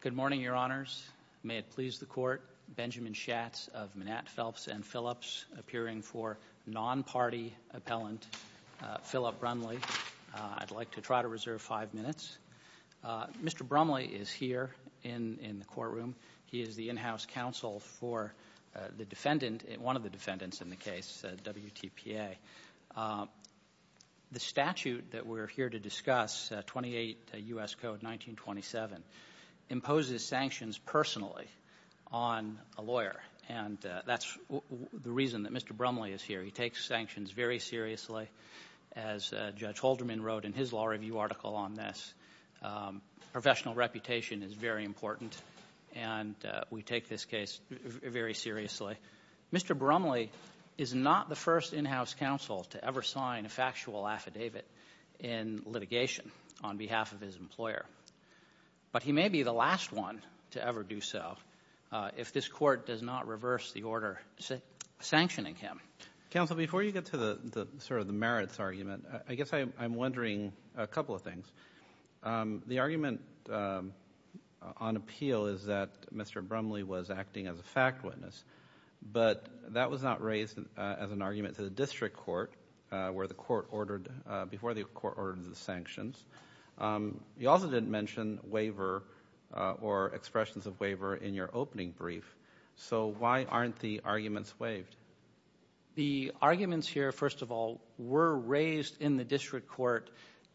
Good morning, Your Honors. May it please the Court, Benjamin Schatz of Manat, Phelps & Phillips, appearing for non-party appellant Philip Brumley. I'd like to try to reserve five minutes. Mr. Brumley is here in the courtroom. He is the in-house counsel for the defendant, one of the defendants in the case, WTPA. The statute that we're here to discuss, 28 U.S. Code 1927, imposes sanctions personally on a lawyer, and that's the reason that Mr. Brumley is here. He takes sanctions very seriously, as Judge Holderman wrote in his law review article on this. Professional reputation is very important, and we take this case very seriously. Mr. Brumley is not the first in-house counsel to ever sign a factual affidavit in litigation on behalf of his employer, but he may be the last one to ever do so if this Court does not reverse the order sanctioning him. Counsel, before you get to the sort of the merits argument, I guess I'm wondering a couple of things. The argument on appeal is that Mr. Brumley was acting as a fact witness, but that was not raised as an argument to the District Court, where the Court ordered, before the Court ordered the sanctions. You also didn't mention waiver or expressions of waiver in your opening brief, so why aren't the arguments waived? The arguments here, first of all, were raised in the District Court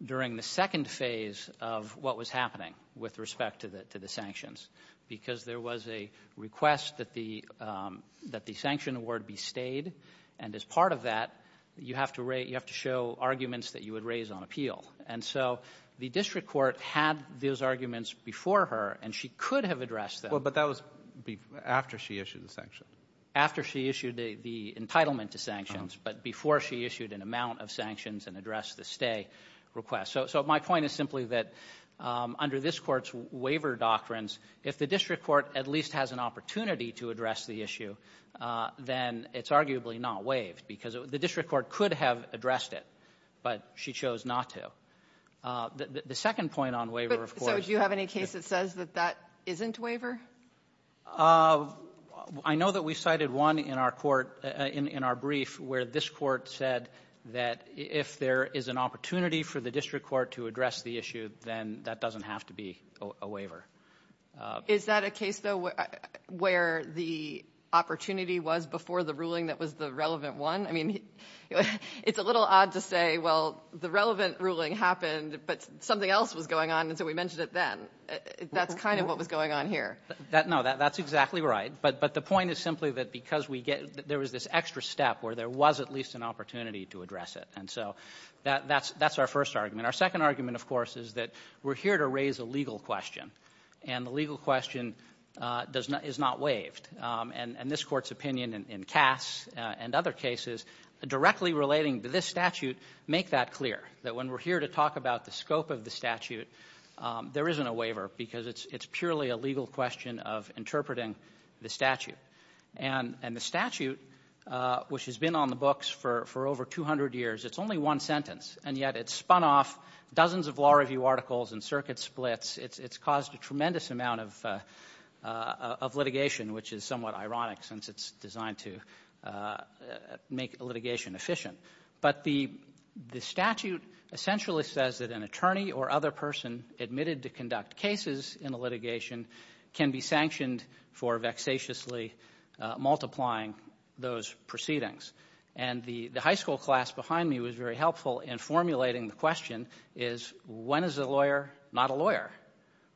during the second phase of what was happening with respect to the sanctions, because there was a request that the sanction award be stayed, and as part of that, you have to show arguments that you would raise on appeal. And so the District Court had those arguments before her, and she could have addressed them. Well, but that was after she issued the sanction. After she issued the entitlement to sanctions, but before she issued an amount of sanctions and addressed the stay request. So my point is simply that, under this Court's waiver doctrines, if the District Court at least has an opportunity to address the issue, then it's arguably not waived, because the District Court could have addressed it, but she chose not to. The second point on waiver, of course — But, so, do you have any case that says that that isn't waiver? I know that we cited one in our Court, in our brief, where this Court said that if the there is an opportunity for the District Court to address the issue, then that doesn't have to be a waiver. Is that a case, though, where the opportunity was before the ruling that was the relevant one? I mean, it's a little odd to say, well, the relevant ruling happened, but something else was going on, and so we mentioned it then. That's kind of what was going on here. No, that's exactly right. But the point is simply that because we get — there was this extra step where there was at least an opportunity to address it, and so that's our first argument. Our second argument, of course, is that we're here to raise a legal question, and the legal question does not — is not waived. And this Court's opinion in Cass and other cases directly relating to this statute make that clear, that when we're here to talk about the scope of the statute, there isn't a waiver, because it's purely a legal question of interpreting the statute. And the statute, which has been on the books for over 200 years, it's only one sentence, and yet it's spun off dozens of law review articles and circuit splits. It's caused a tremendous amount of litigation, which is somewhat ironic since it's designed to make litigation efficient. But the statute essentially says that an attorney or other person admitted to conduct cases in a litigation can be sanctioned for vexatiously multiplying those proceedings. And the high school class behind me was very helpful in formulating the question, is when is a lawyer not a lawyer?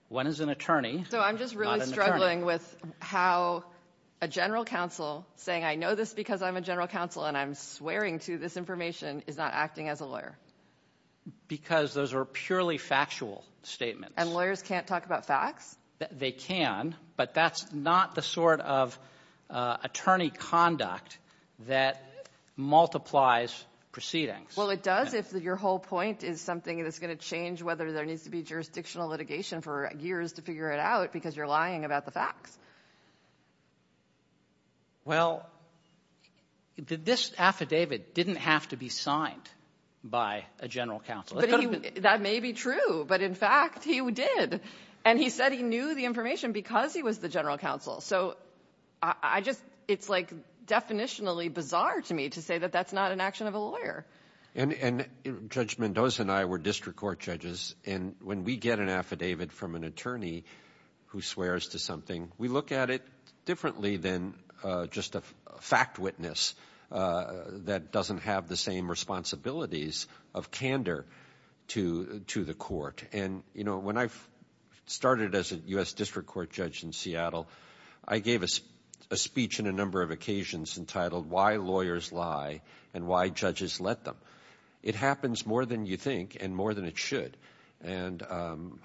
When is an attorney not an attorney? So I'm just really struggling with how a general counsel saying, I know this because I'm a general counsel and I'm swearing to this information, is not acting as a lawyer. Because those are purely factual statements. And lawyers can't talk about facts? They can, but that's not the sort of attorney conduct that multiplies proceedings. Well, it does if your whole point is something that's going to change whether there needs to be jurisdictional litigation for years to figure it out because you're lying about the facts. Well, this affidavit didn't have to be signed by a general counsel. That may be true, but in fact he did. And he said he knew the information because he was the general counsel. So I just, it's like definitionally bizarre to me to say that that's not an action of a lawyer. And Judge Mendoza and I were district court judges. And when we get an affidavit from an attorney who swears to something, we look at it differently than just a fact witness that doesn't have the same responsibilities of candor to the court. And when I started as a U.S. district court judge in Seattle, I gave a speech on a number of occasions entitled, Why Lawyers Lie and Why Judges Let Them. It happens more than you think and more than it should. And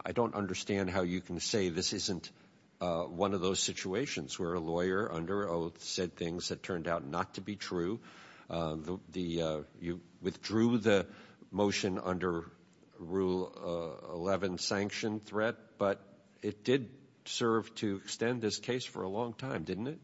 I don't understand how you can say this isn't one of those situations where a lawyer under oath said things that turned out not to be true. The you withdrew the motion under Rule 11 sanction threat, but it did serve to extend this case for a long time, didn't it?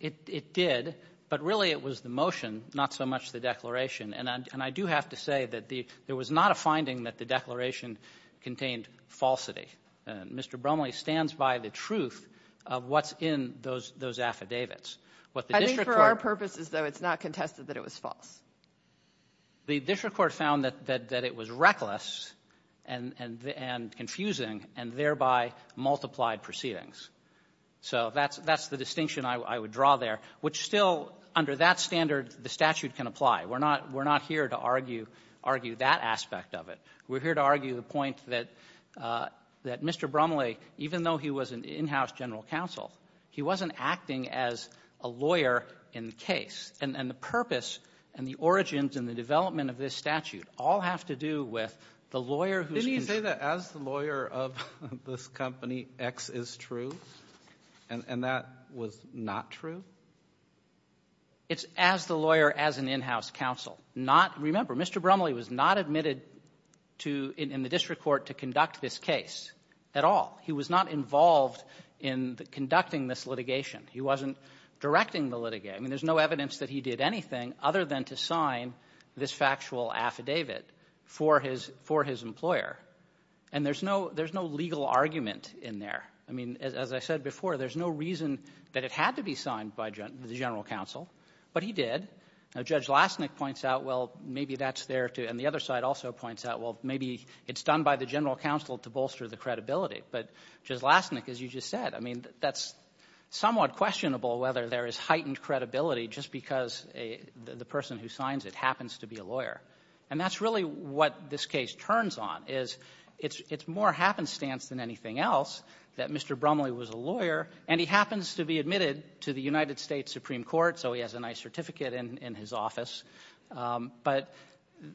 It did, but really it was the motion, not so much the declaration. And I do have to say that there was not a finding that the declaration contained falsity. Mr. Bromley stands by the truth of what's in those affidavits. I think for our purposes, though, it's not contested that it was false. The district court found that it was reckless and confusing and thereby multiplied proceedings. So that's the distinction I would draw there, which still under that standard the statute can apply. We're not here to argue that aspect of it. We're here to argue the point that Mr. Bromley, even though he was an in-house general counsel, he wasn't acting as a lawyer in the case. And the purpose and the origins and the development of this statute all have to do with the lawyer who's going to be the lawyer of this company, X is true, and that was not true? It's as the lawyer as an in-house counsel. Not, remember, Mr. Bromley was not admitted to in the district court to conduct this case at all. He was not involved in conducting this litigation. He wasn't directing the litigation. I mean, there's no evidence that he did anything other than to sign this factual affidavit for his employer. And there's no legal argument in there. I mean, as I said before, there's no reason that it had to be signed by the general counsel, but he did. Now, Judge Lastnick points out, well, maybe that's there, too. And the other side also points out, well, maybe it's done by the general counsel to bolster the credibility. But Judge Lastnick, as you just said, I mean, that's somewhat questionable whether there is heightened credibility just because the person who signs it happens to be a lawyer. And that's really what this case turns on, is it's more happenstance than anything else that Mr. Bromley was a lawyer, and he happens to be admitted to the United States Supreme Court, so he has a nice certificate in his office. But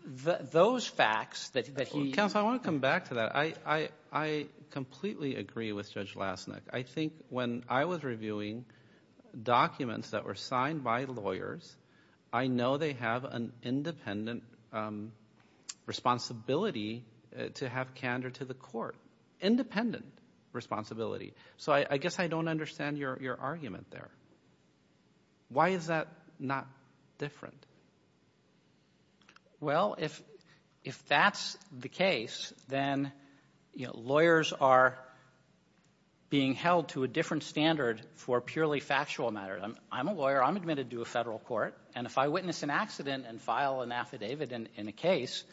those facts that he... Counsel, I want to come back to that. I completely agree with Judge Lastnick. I think when I was reviewing documents that were signed by lawyers, I know they have an independent responsibility to have candor to the court, independent responsibility. So I guess I don't understand your argument there. Why is that not different? Well, if that's the case, then lawyers are being held to a different standard for purely factual matters. I'm a lawyer. I'm admitted to a federal court. And if I witness an accident and file an affidavit in a case,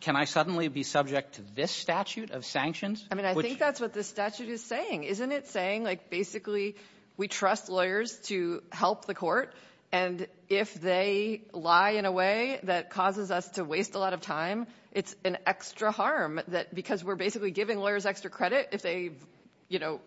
can I suddenly be subject to this statute of sanctions? I mean, I think that's what this statute is saying. Isn't it saying, like, basically, we trust lawyers to help the court, and if they lie in a way that causes us to waste a lot of time, it's an extra harm, that because we're basically giving lawyers extra credit, if they, you know,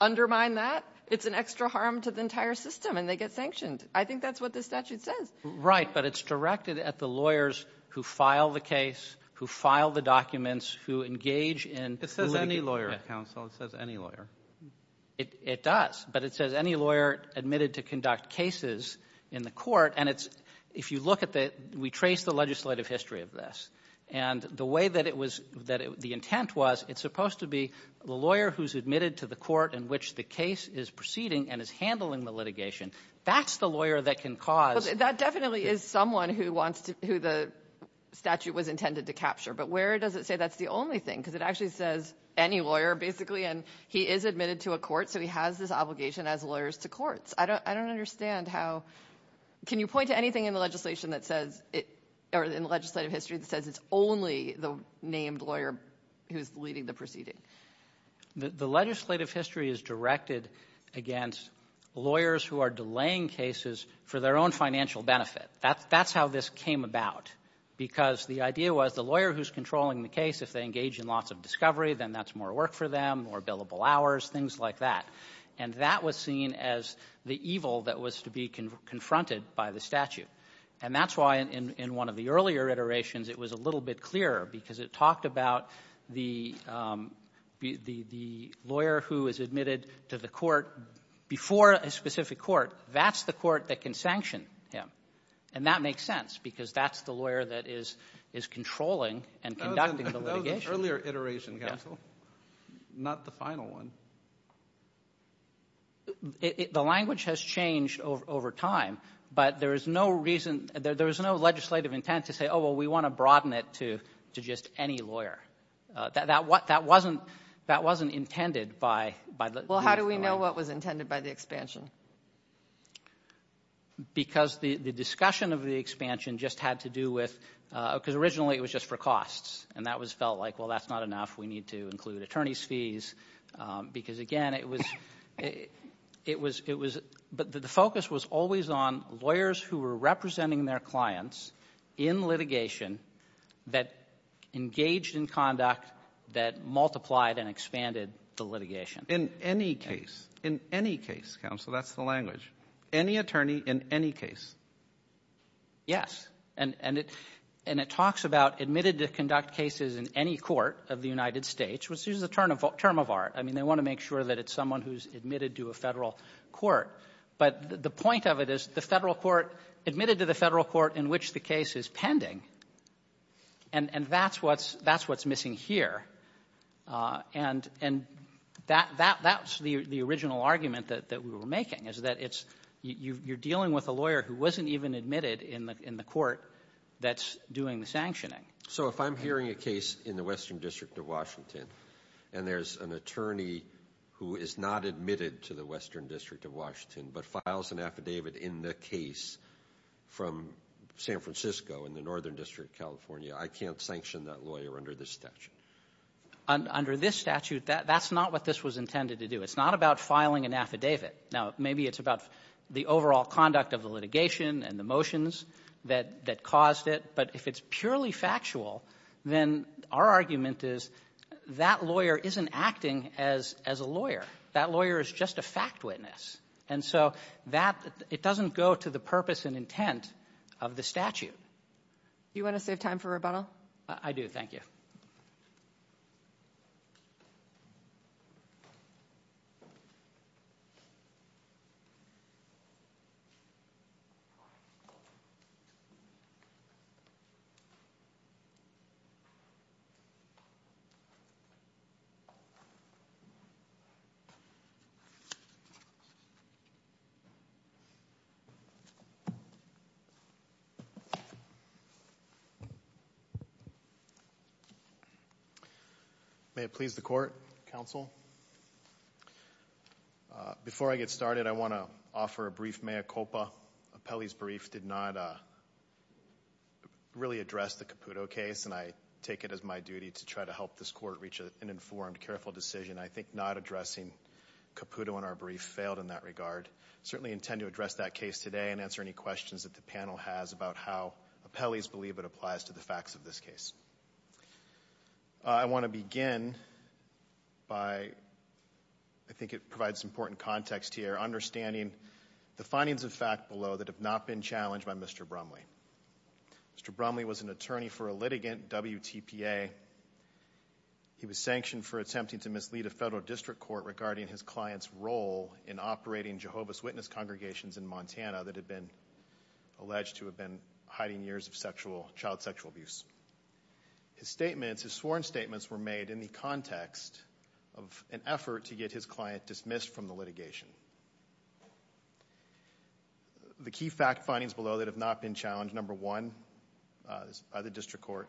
undermine that, it's an extra harm to the entire system, and they get sanctioned. I think that's what this statute says. Right. But it's directed at the lawyers who file the case, who file the documents, who engage in the litigation. It says any lawyer, counsel. It says any lawyer. It does. But it says any lawyer admitted to conduct cases in the court. And it's — if you look at the — we traced the legislative history of this. And the way that it was — that the intent was, it's supposed to be the lawyer who's admitted to the court in which the case is proceeding and is handling the litigation. That's the lawyer that can cause — Well, that definitely is someone who wants to — who the statute was intended to capture. But where does it say that's the only thing? Because it actually says any lawyer, basically, and he is admitted to a court, so he has this obligation as lawyers to courts. I don't understand how — can you point to anything in the legislation that says — or in the legislative history that says it's only the named lawyer who's leading the proceeding? The legislative history is directed against lawyers who are delaying cases for their own financial benefit. That's how this came about. Because the idea was the lawyer who's controlling the case, if they engage in lots of discovery, then that's more work for them, more billable hours, things like that. And that was seen as the evil that was to be confronted by the statute. And that's why, in one of the earlier iterations, it was a little bit clearer, because it talked about the lawyer who is admitted to the court before a specific court. That's the court that can sanction him. And that makes sense, because that's the lawyer that is controlling and conducting the litigation. That was an earlier iteration, Counsel, not the final one. The language has changed over time, but there is no reason — there is no legislative intent to say, oh, well, we want to broaden it to just any lawyer. That wasn't intended by the — because the discussion of the expansion just had to do with — because originally it was just for costs, and that was felt like, well, that's not enough, we need to include attorney's fees, because, again, it was — but the focus was always on lawyers who were representing their clients in litigation that engaged in conduct that multiplied and expanded the litigation. In any case. In any case, Counsel, that's the language. Any attorney in any case. Yes. And it talks about admitted to conduct cases in any court of the United States, which is a term of art. I mean, they want to make sure that it's someone who is admitted to a Federal court. But the point of it is the Federal court — admitted to the Federal That's the original argument that we were making, is that it's — you're dealing with a lawyer who wasn't even admitted in the court that's doing the sanctioning. So if I'm hearing a case in the Western District of Washington, and there's an attorney who is not admitted to the Western District of Washington, but files an affidavit in the case from San Francisco in the Northern District of California, I can't sanction that lawyer under this statute? Under this statute, that's not what this was intended to do. It's not about filing an affidavit. Now, maybe it's about the overall conduct of the litigation and the motions that caused it. But if it's purely factual, then our argument is that lawyer isn't acting as a lawyer. That lawyer is just a fact witness. And so that — it doesn't go to the purpose and intent of the statute. Do you want to save time for rebuttal? I do. Thank you. May it please the Court, Counsel. Before I get started, I want to offer a brief mea culpa. Appellee's brief did not really address the Caputo case, and I take it as my duty to try to help this Court reach an informed, careful decision. I think not addressing Caputo in our brief failed in that regard. I certainly intend to address that case today and answer any questions that the panel has about how appellees believe it applies to the facts of this case. I want to begin by — I think it provides important context here — understanding the findings of fact below that have not been challenged by Mr. Brumley. Mr. Brumley was an attorney for a litigant, WTPA. He was sanctioned for attempting to mislead a federal district court regarding his client's role in operating Jehovah's Witness congregations in Montana that had been alleged to have been hiding years of child sexual abuse. His sworn statements were made in the context of an effort to get his client dismissed from the litigation. The key fact findings below that have not been challenged, number one, by the district court,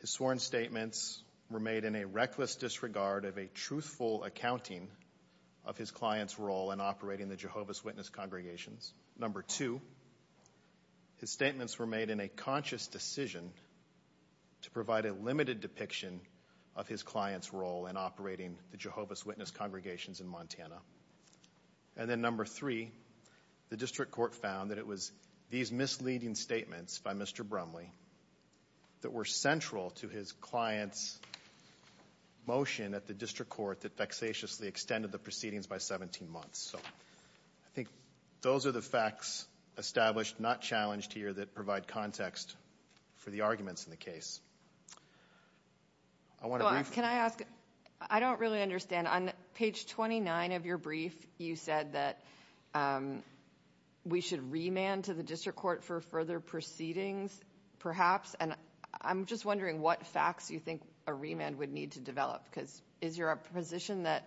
his sworn statements were made in a reckless disregard of a truthful accounting of his client's role in operating the Jehovah's Witness congregations. Number two, his statements were made in a conscious decision to provide a limited depiction of his client's role in operating the Jehovah's Witness congregations in Montana. And then number three, the district court found that it was these misleading statements by Mr. Brumley that were central to his client's motion at the district court that vexatiously extended the proceedings by 17 months. So I think those are the facts established, not challenged here, that provide context for the arguments in the case. I want to brief you. Can I ask, I don't really understand, on page 29 of your brief you said that we should remand to the district court for further proceedings, perhaps, and I'm just wondering what facts you think a remand would need to develop, because is your position that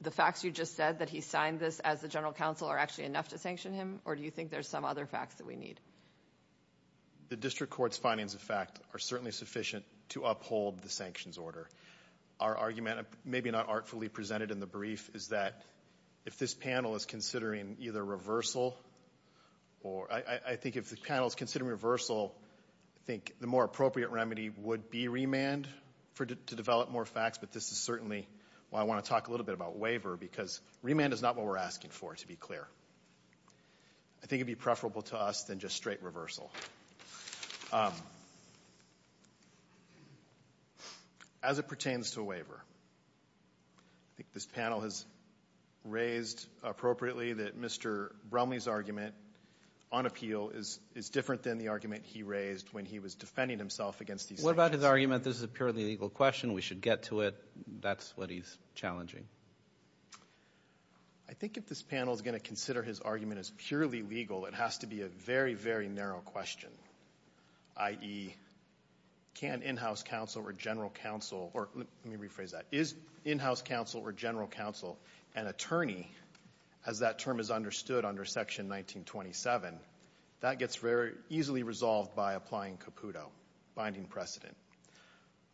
the facts you just said, that he signed this as the general counsel, are actually enough to sanction him, or do you think there's some other facts that we need? The district court's findings, in fact, are certainly sufficient to uphold the sanctions order. Our argument, maybe not artfully presented in the brief, is that if this panel is considering either reversal, or I think if the panel is considering reversal, I think the more appropriate remedy would be remand to develop more facts, but this is certainly why I want to talk a little bit about waiver, because remand is not what we're asking for, to be clear. I think it would be preferable to us than just straight reversal. As it pertains to waiver, I think this panel has raised appropriately that Mr. Bromley's argument on appeal is different than the argument he raised when he was defending himself against these sanctions. What about his argument, this is a purely legal question, we should get to it, that's what he's challenging? I think if this panel is going to consider his argument as purely legal, it has to be a very, very narrow question, i.e., can in-house counsel or general counsel, or let me rephrase that, is in-house counsel or general counsel an attorney, as that term is understood under Section 1927, that gets very easily resolved by applying Caputo, binding precedent.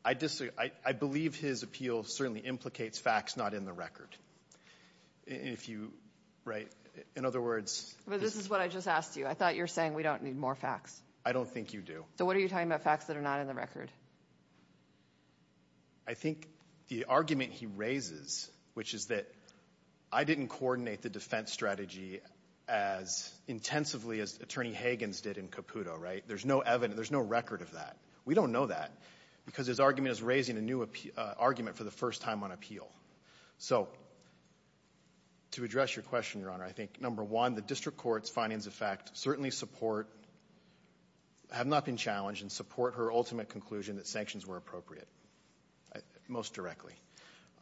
I believe his appeal certainly implicates facts not in the record. If you write, in other words, this is what I just asked you. I thought you were saying we don't need more facts. I don't think you do. So what are you talking about, facts that are not in the record? I think the argument he raises, which is that I didn't coordinate the defense strategy as intensively as Attorney Hagan's did in Caputo, right, there's no record of that. We don't know that because his argument is raising a new argument for the first time on appeal. So to address your question, Your Honor, I think, number one, the district court's findings of fact certainly support, have not been challenged, and support her ultimate conclusion that sanctions were appropriate, most directly.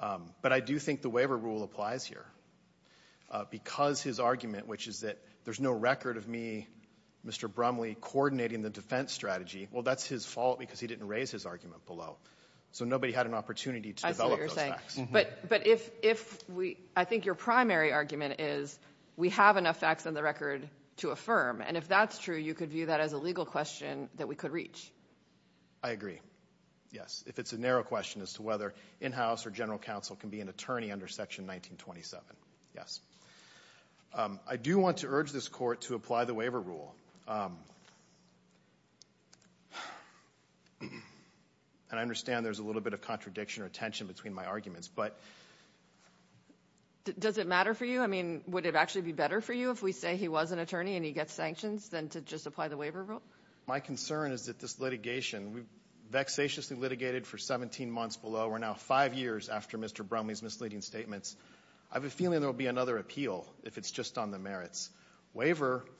But I do think the waiver rule applies here because his argument, which is that there's no record of me, Mr. Brumley, coordinating the defense strategy. Well, that's his fault because he didn't raise his argument below. So nobody had an opportunity to develop those facts. But if we — I think your primary argument is we have enough facts on the record to affirm. And if that's true, you could view that as a legal question that we could reach. I agree, yes. If it's a narrow question as to whether in-house or general counsel can be an attorney under Section 1927, yes. I do want to urge this Court to apply the waiver rule. And I understand there's a little bit of contradiction or tension between my arguments, but — Does it matter for you? I mean, would it actually be better for you if we say he was an attorney and he gets sanctions than to just apply the waiver rule? My concern is that this litigation — we've vexatiously litigated for 17 months below. We're now five years after Mr. Brumley's misleading statements. I have a feeling there will be another appeal if it's just on the merits. Waiver —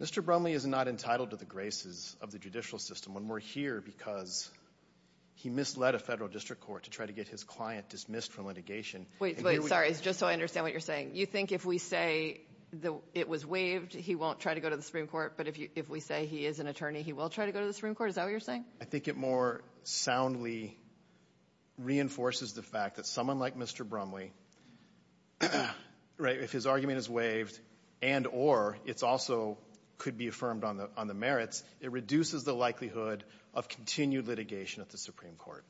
Mr. Brumley is not entitled to the graces of the judicial system. And we're here because he misled a federal district court to try to get his client dismissed from litigation. Wait, wait, sorry, just so I understand what you're saying. You think if we say it was waived, he won't try to go to the Supreme Court? But if we say he is an attorney, he will try to go to the Supreme Court? Is that what you're saying? I think it more soundly reinforces the fact that someone like Mr. Brumley, right, if his argument is waived and or it's also could be affirmed on the merits, it reduces the likelihood of continued litigation at the Supreme Court.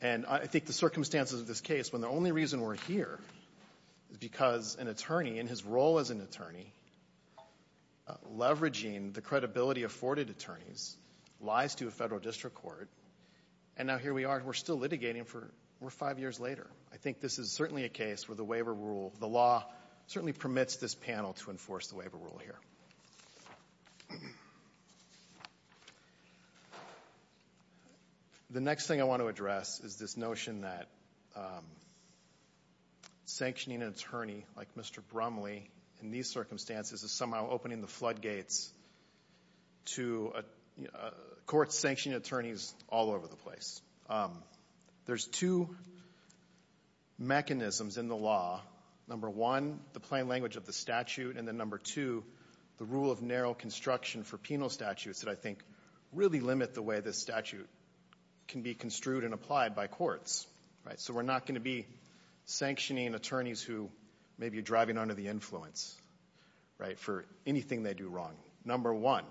And I think the circumstances of this case, when the only reason we're here is because an attorney, in his role as an attorney, leveraging the credibility of afforded attorneys, lies to a federal district court, and now here we are, and we're still litigating for — we're five years later. I think this is certainly a case where the waiver rule, the law certainly permits this panel to enforce the waiver rule here. Thank you. The next thing I want to address is this notion that sanctioning an attorney like Mr. Brumley in these circumstances is somehow opening the floodgates to courts sanctioning attorneys all over the place. There's two mechanisms in the law. Number one, the plain language of the statute, and then number two, the rule of narrow construction for penal statutes that I think really limit the way the statute can be construed and applied by courts. Right? So we're not going to be sanctioning attorneys who may be driving under the influence, right, for anything they do wrong. Number one,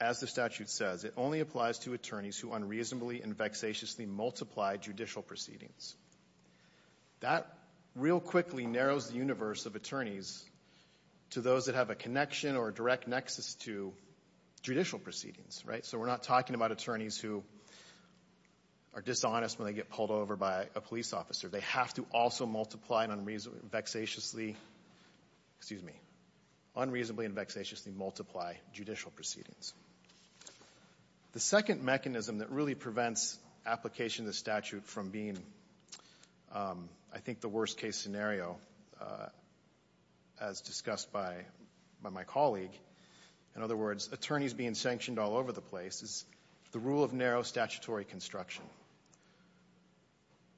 as the statute says, it only applies to attorneys who unreasonably and vexatiously multiply judicial proceedings. That real quickly narrows the universe of attorneys to those that have a connection or a direct nexus to judicial proceedings, right? So we're not talking about attorneys who are dishonest when they get pulled over by a police officer. They have to also multiply and vexatiously — excuse me — unreasonably and vexatiously multiply judicial proceedings. The second mechanism that really prevents application of the statute from being, I think, the worst-case scenario, as discussed by my colleague, in other words, attorneys being sanctioned all over the place, is the rule of narrow statutory construction,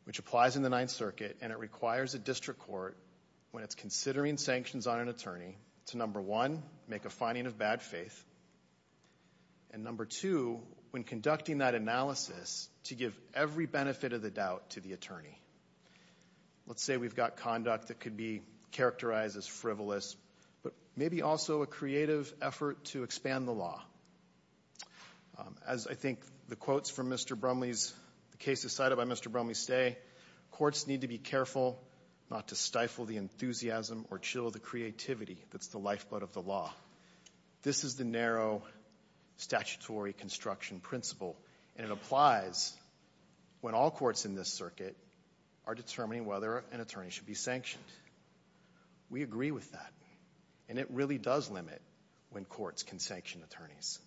which applies in the Ninth Circuit, and it requires a district court, when it's considering sanctions on an attorney, to number one, make a finding of bad faith, and number two, when conducting that analysis, to give every benefit of the doubt to the attorney. Let's say we've got conduct that could be characterized as frivolous, but maybe also a creative effort to expand the law. As I think the quotes from Mr. Brumley's — the cases cited by Mr. Brumley stay, courts need to be careful not to stifle the enthusiasm or chill the creativity that's the lifeblood of the law. This is the narrow statutory construction principle, and it applies when all courts in this circuit are determining whether an attorney should be sanctioned. We agree with that, and it really does limit when courts can sanction attorneys.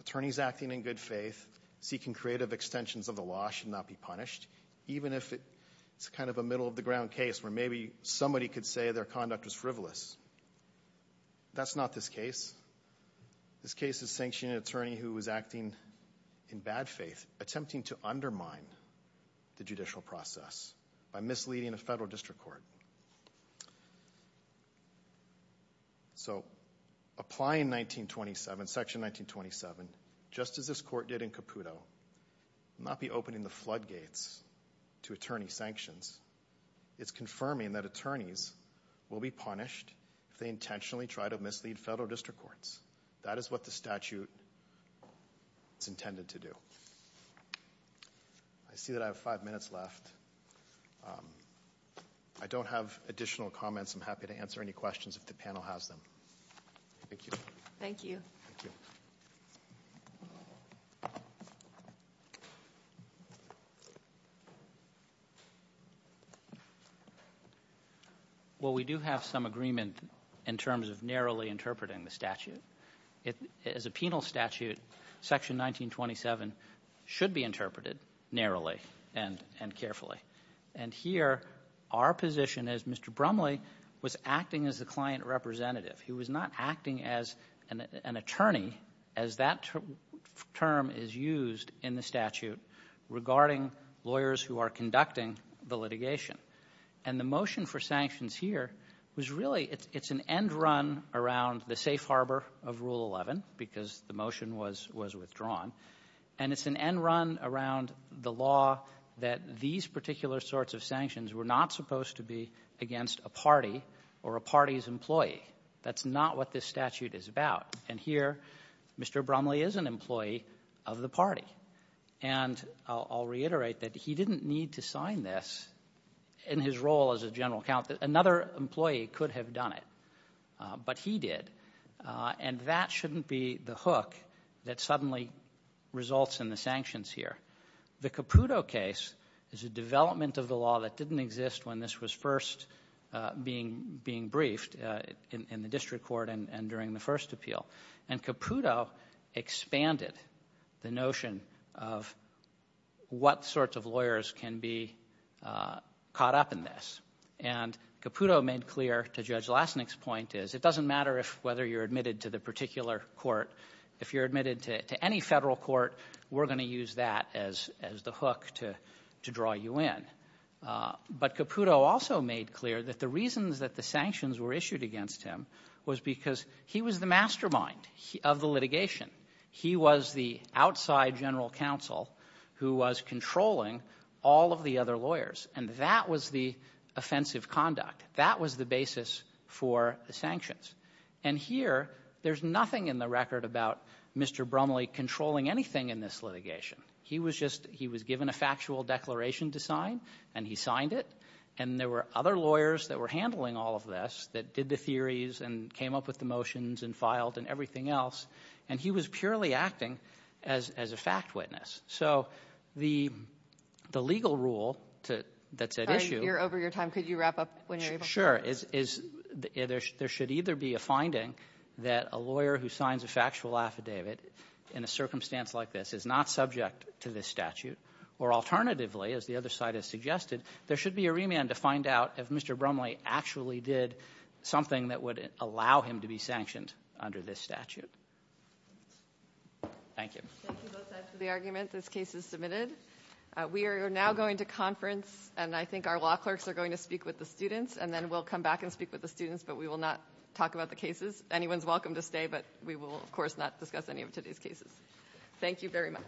Attorneys acting in good faith, seeking creative extensions of the law, should not be punished even if it's kind of a middle-of-the-ground case where maybe somebody could say their conduct was frivolous. That's not this case. This case is sanctioning an attorney who is acting in bad faith, attempting to undermine the judicial process by misleading a federal district court. So apply in 1927, Section 1927, just as this court did in Caputo, not be opening the floodgates to attorney sanctions. It's confirming that attorneys will be punished if they intentionally try to mislead federal district courts. That is what the statute is intended to do. I see that I have five minutes left. I don't have additional comments. I'm happy to answer any questions if the panel has them. Thank you. Thank you. Thank you. Well, we do have some agreement in terms of narrowly interpreting the statute. As a penal statute, Section 1927 should be interpreted narrowly and carefully. And here, our position is Mr. Brumley was acting as the client representative. He was not acting as an attorney, as that term is used in the statute, regarding lawyers who are conducting the litigation. And the motion for sanctions here was really, it's an end run around the safe harbor of Rule 11, because the motion was withdrawn. And it's an end run around the law that these particular sorts of sanctions were not supposed to be against a party or a party's employee. That's not what this statute is about. And here, Mr. Brumley is an employee of the party. And I'll reiterate that he didn't need to sign this in his role as a general counsel. Another employee could have done it. But he did. And that shouldn't be the hook that suddenly results in the sanctions here. The Caputo case is a development of the law that didn't exist when this was first being briefed in the district court and during the first appeal. And Caputo expanded the notion of what sorts of lawyers can be caught up in this. And Caputo made clear, to Judge Lasnik's point, is it doesn't matter whether you're admitted to the particular court. If you're admitted to any federal court, we're going to use that as the hook to draw you in. But Caputo also made clear that the reasons that the sanctions were issued against him was because he was the mastermind of the litigation. He was the outside general counsel who was controlling all of the other lawyers. And that was the offensive conduct. That was the basis for the sanctions. And here, there's nothing in the record about Mr. Brumley controlling anything in this litigation. He was just he was given a factual declaration to sign, and he signed it. And there were other lawyers that were handling all of this that did the theories and came up with the motions and filed and everything else. And he was purely acting as a fact witness. So the legal rule that's at issue — You're over your time. Could you wrap up when you're able? Sure. There should either be a finding that a lawyer who signs a factual affidavit in a circumstance like this is not subject to this statute, or alternatively, as the other side has suggested, there should be a remand to find out if Mr. Brumley actually did something that would allow him to be sanctioned under this statute. Thank you. Thank you, both sides, for the argument. This case is submitted. We are now going to conference, and I think our law clerks are going to speak with the students, and then we'll come back and speak with the students, but we will not talk about the cases. Anyone's welcome to stay, but we will, of course, not discuss any of today's cases. Thank you very much.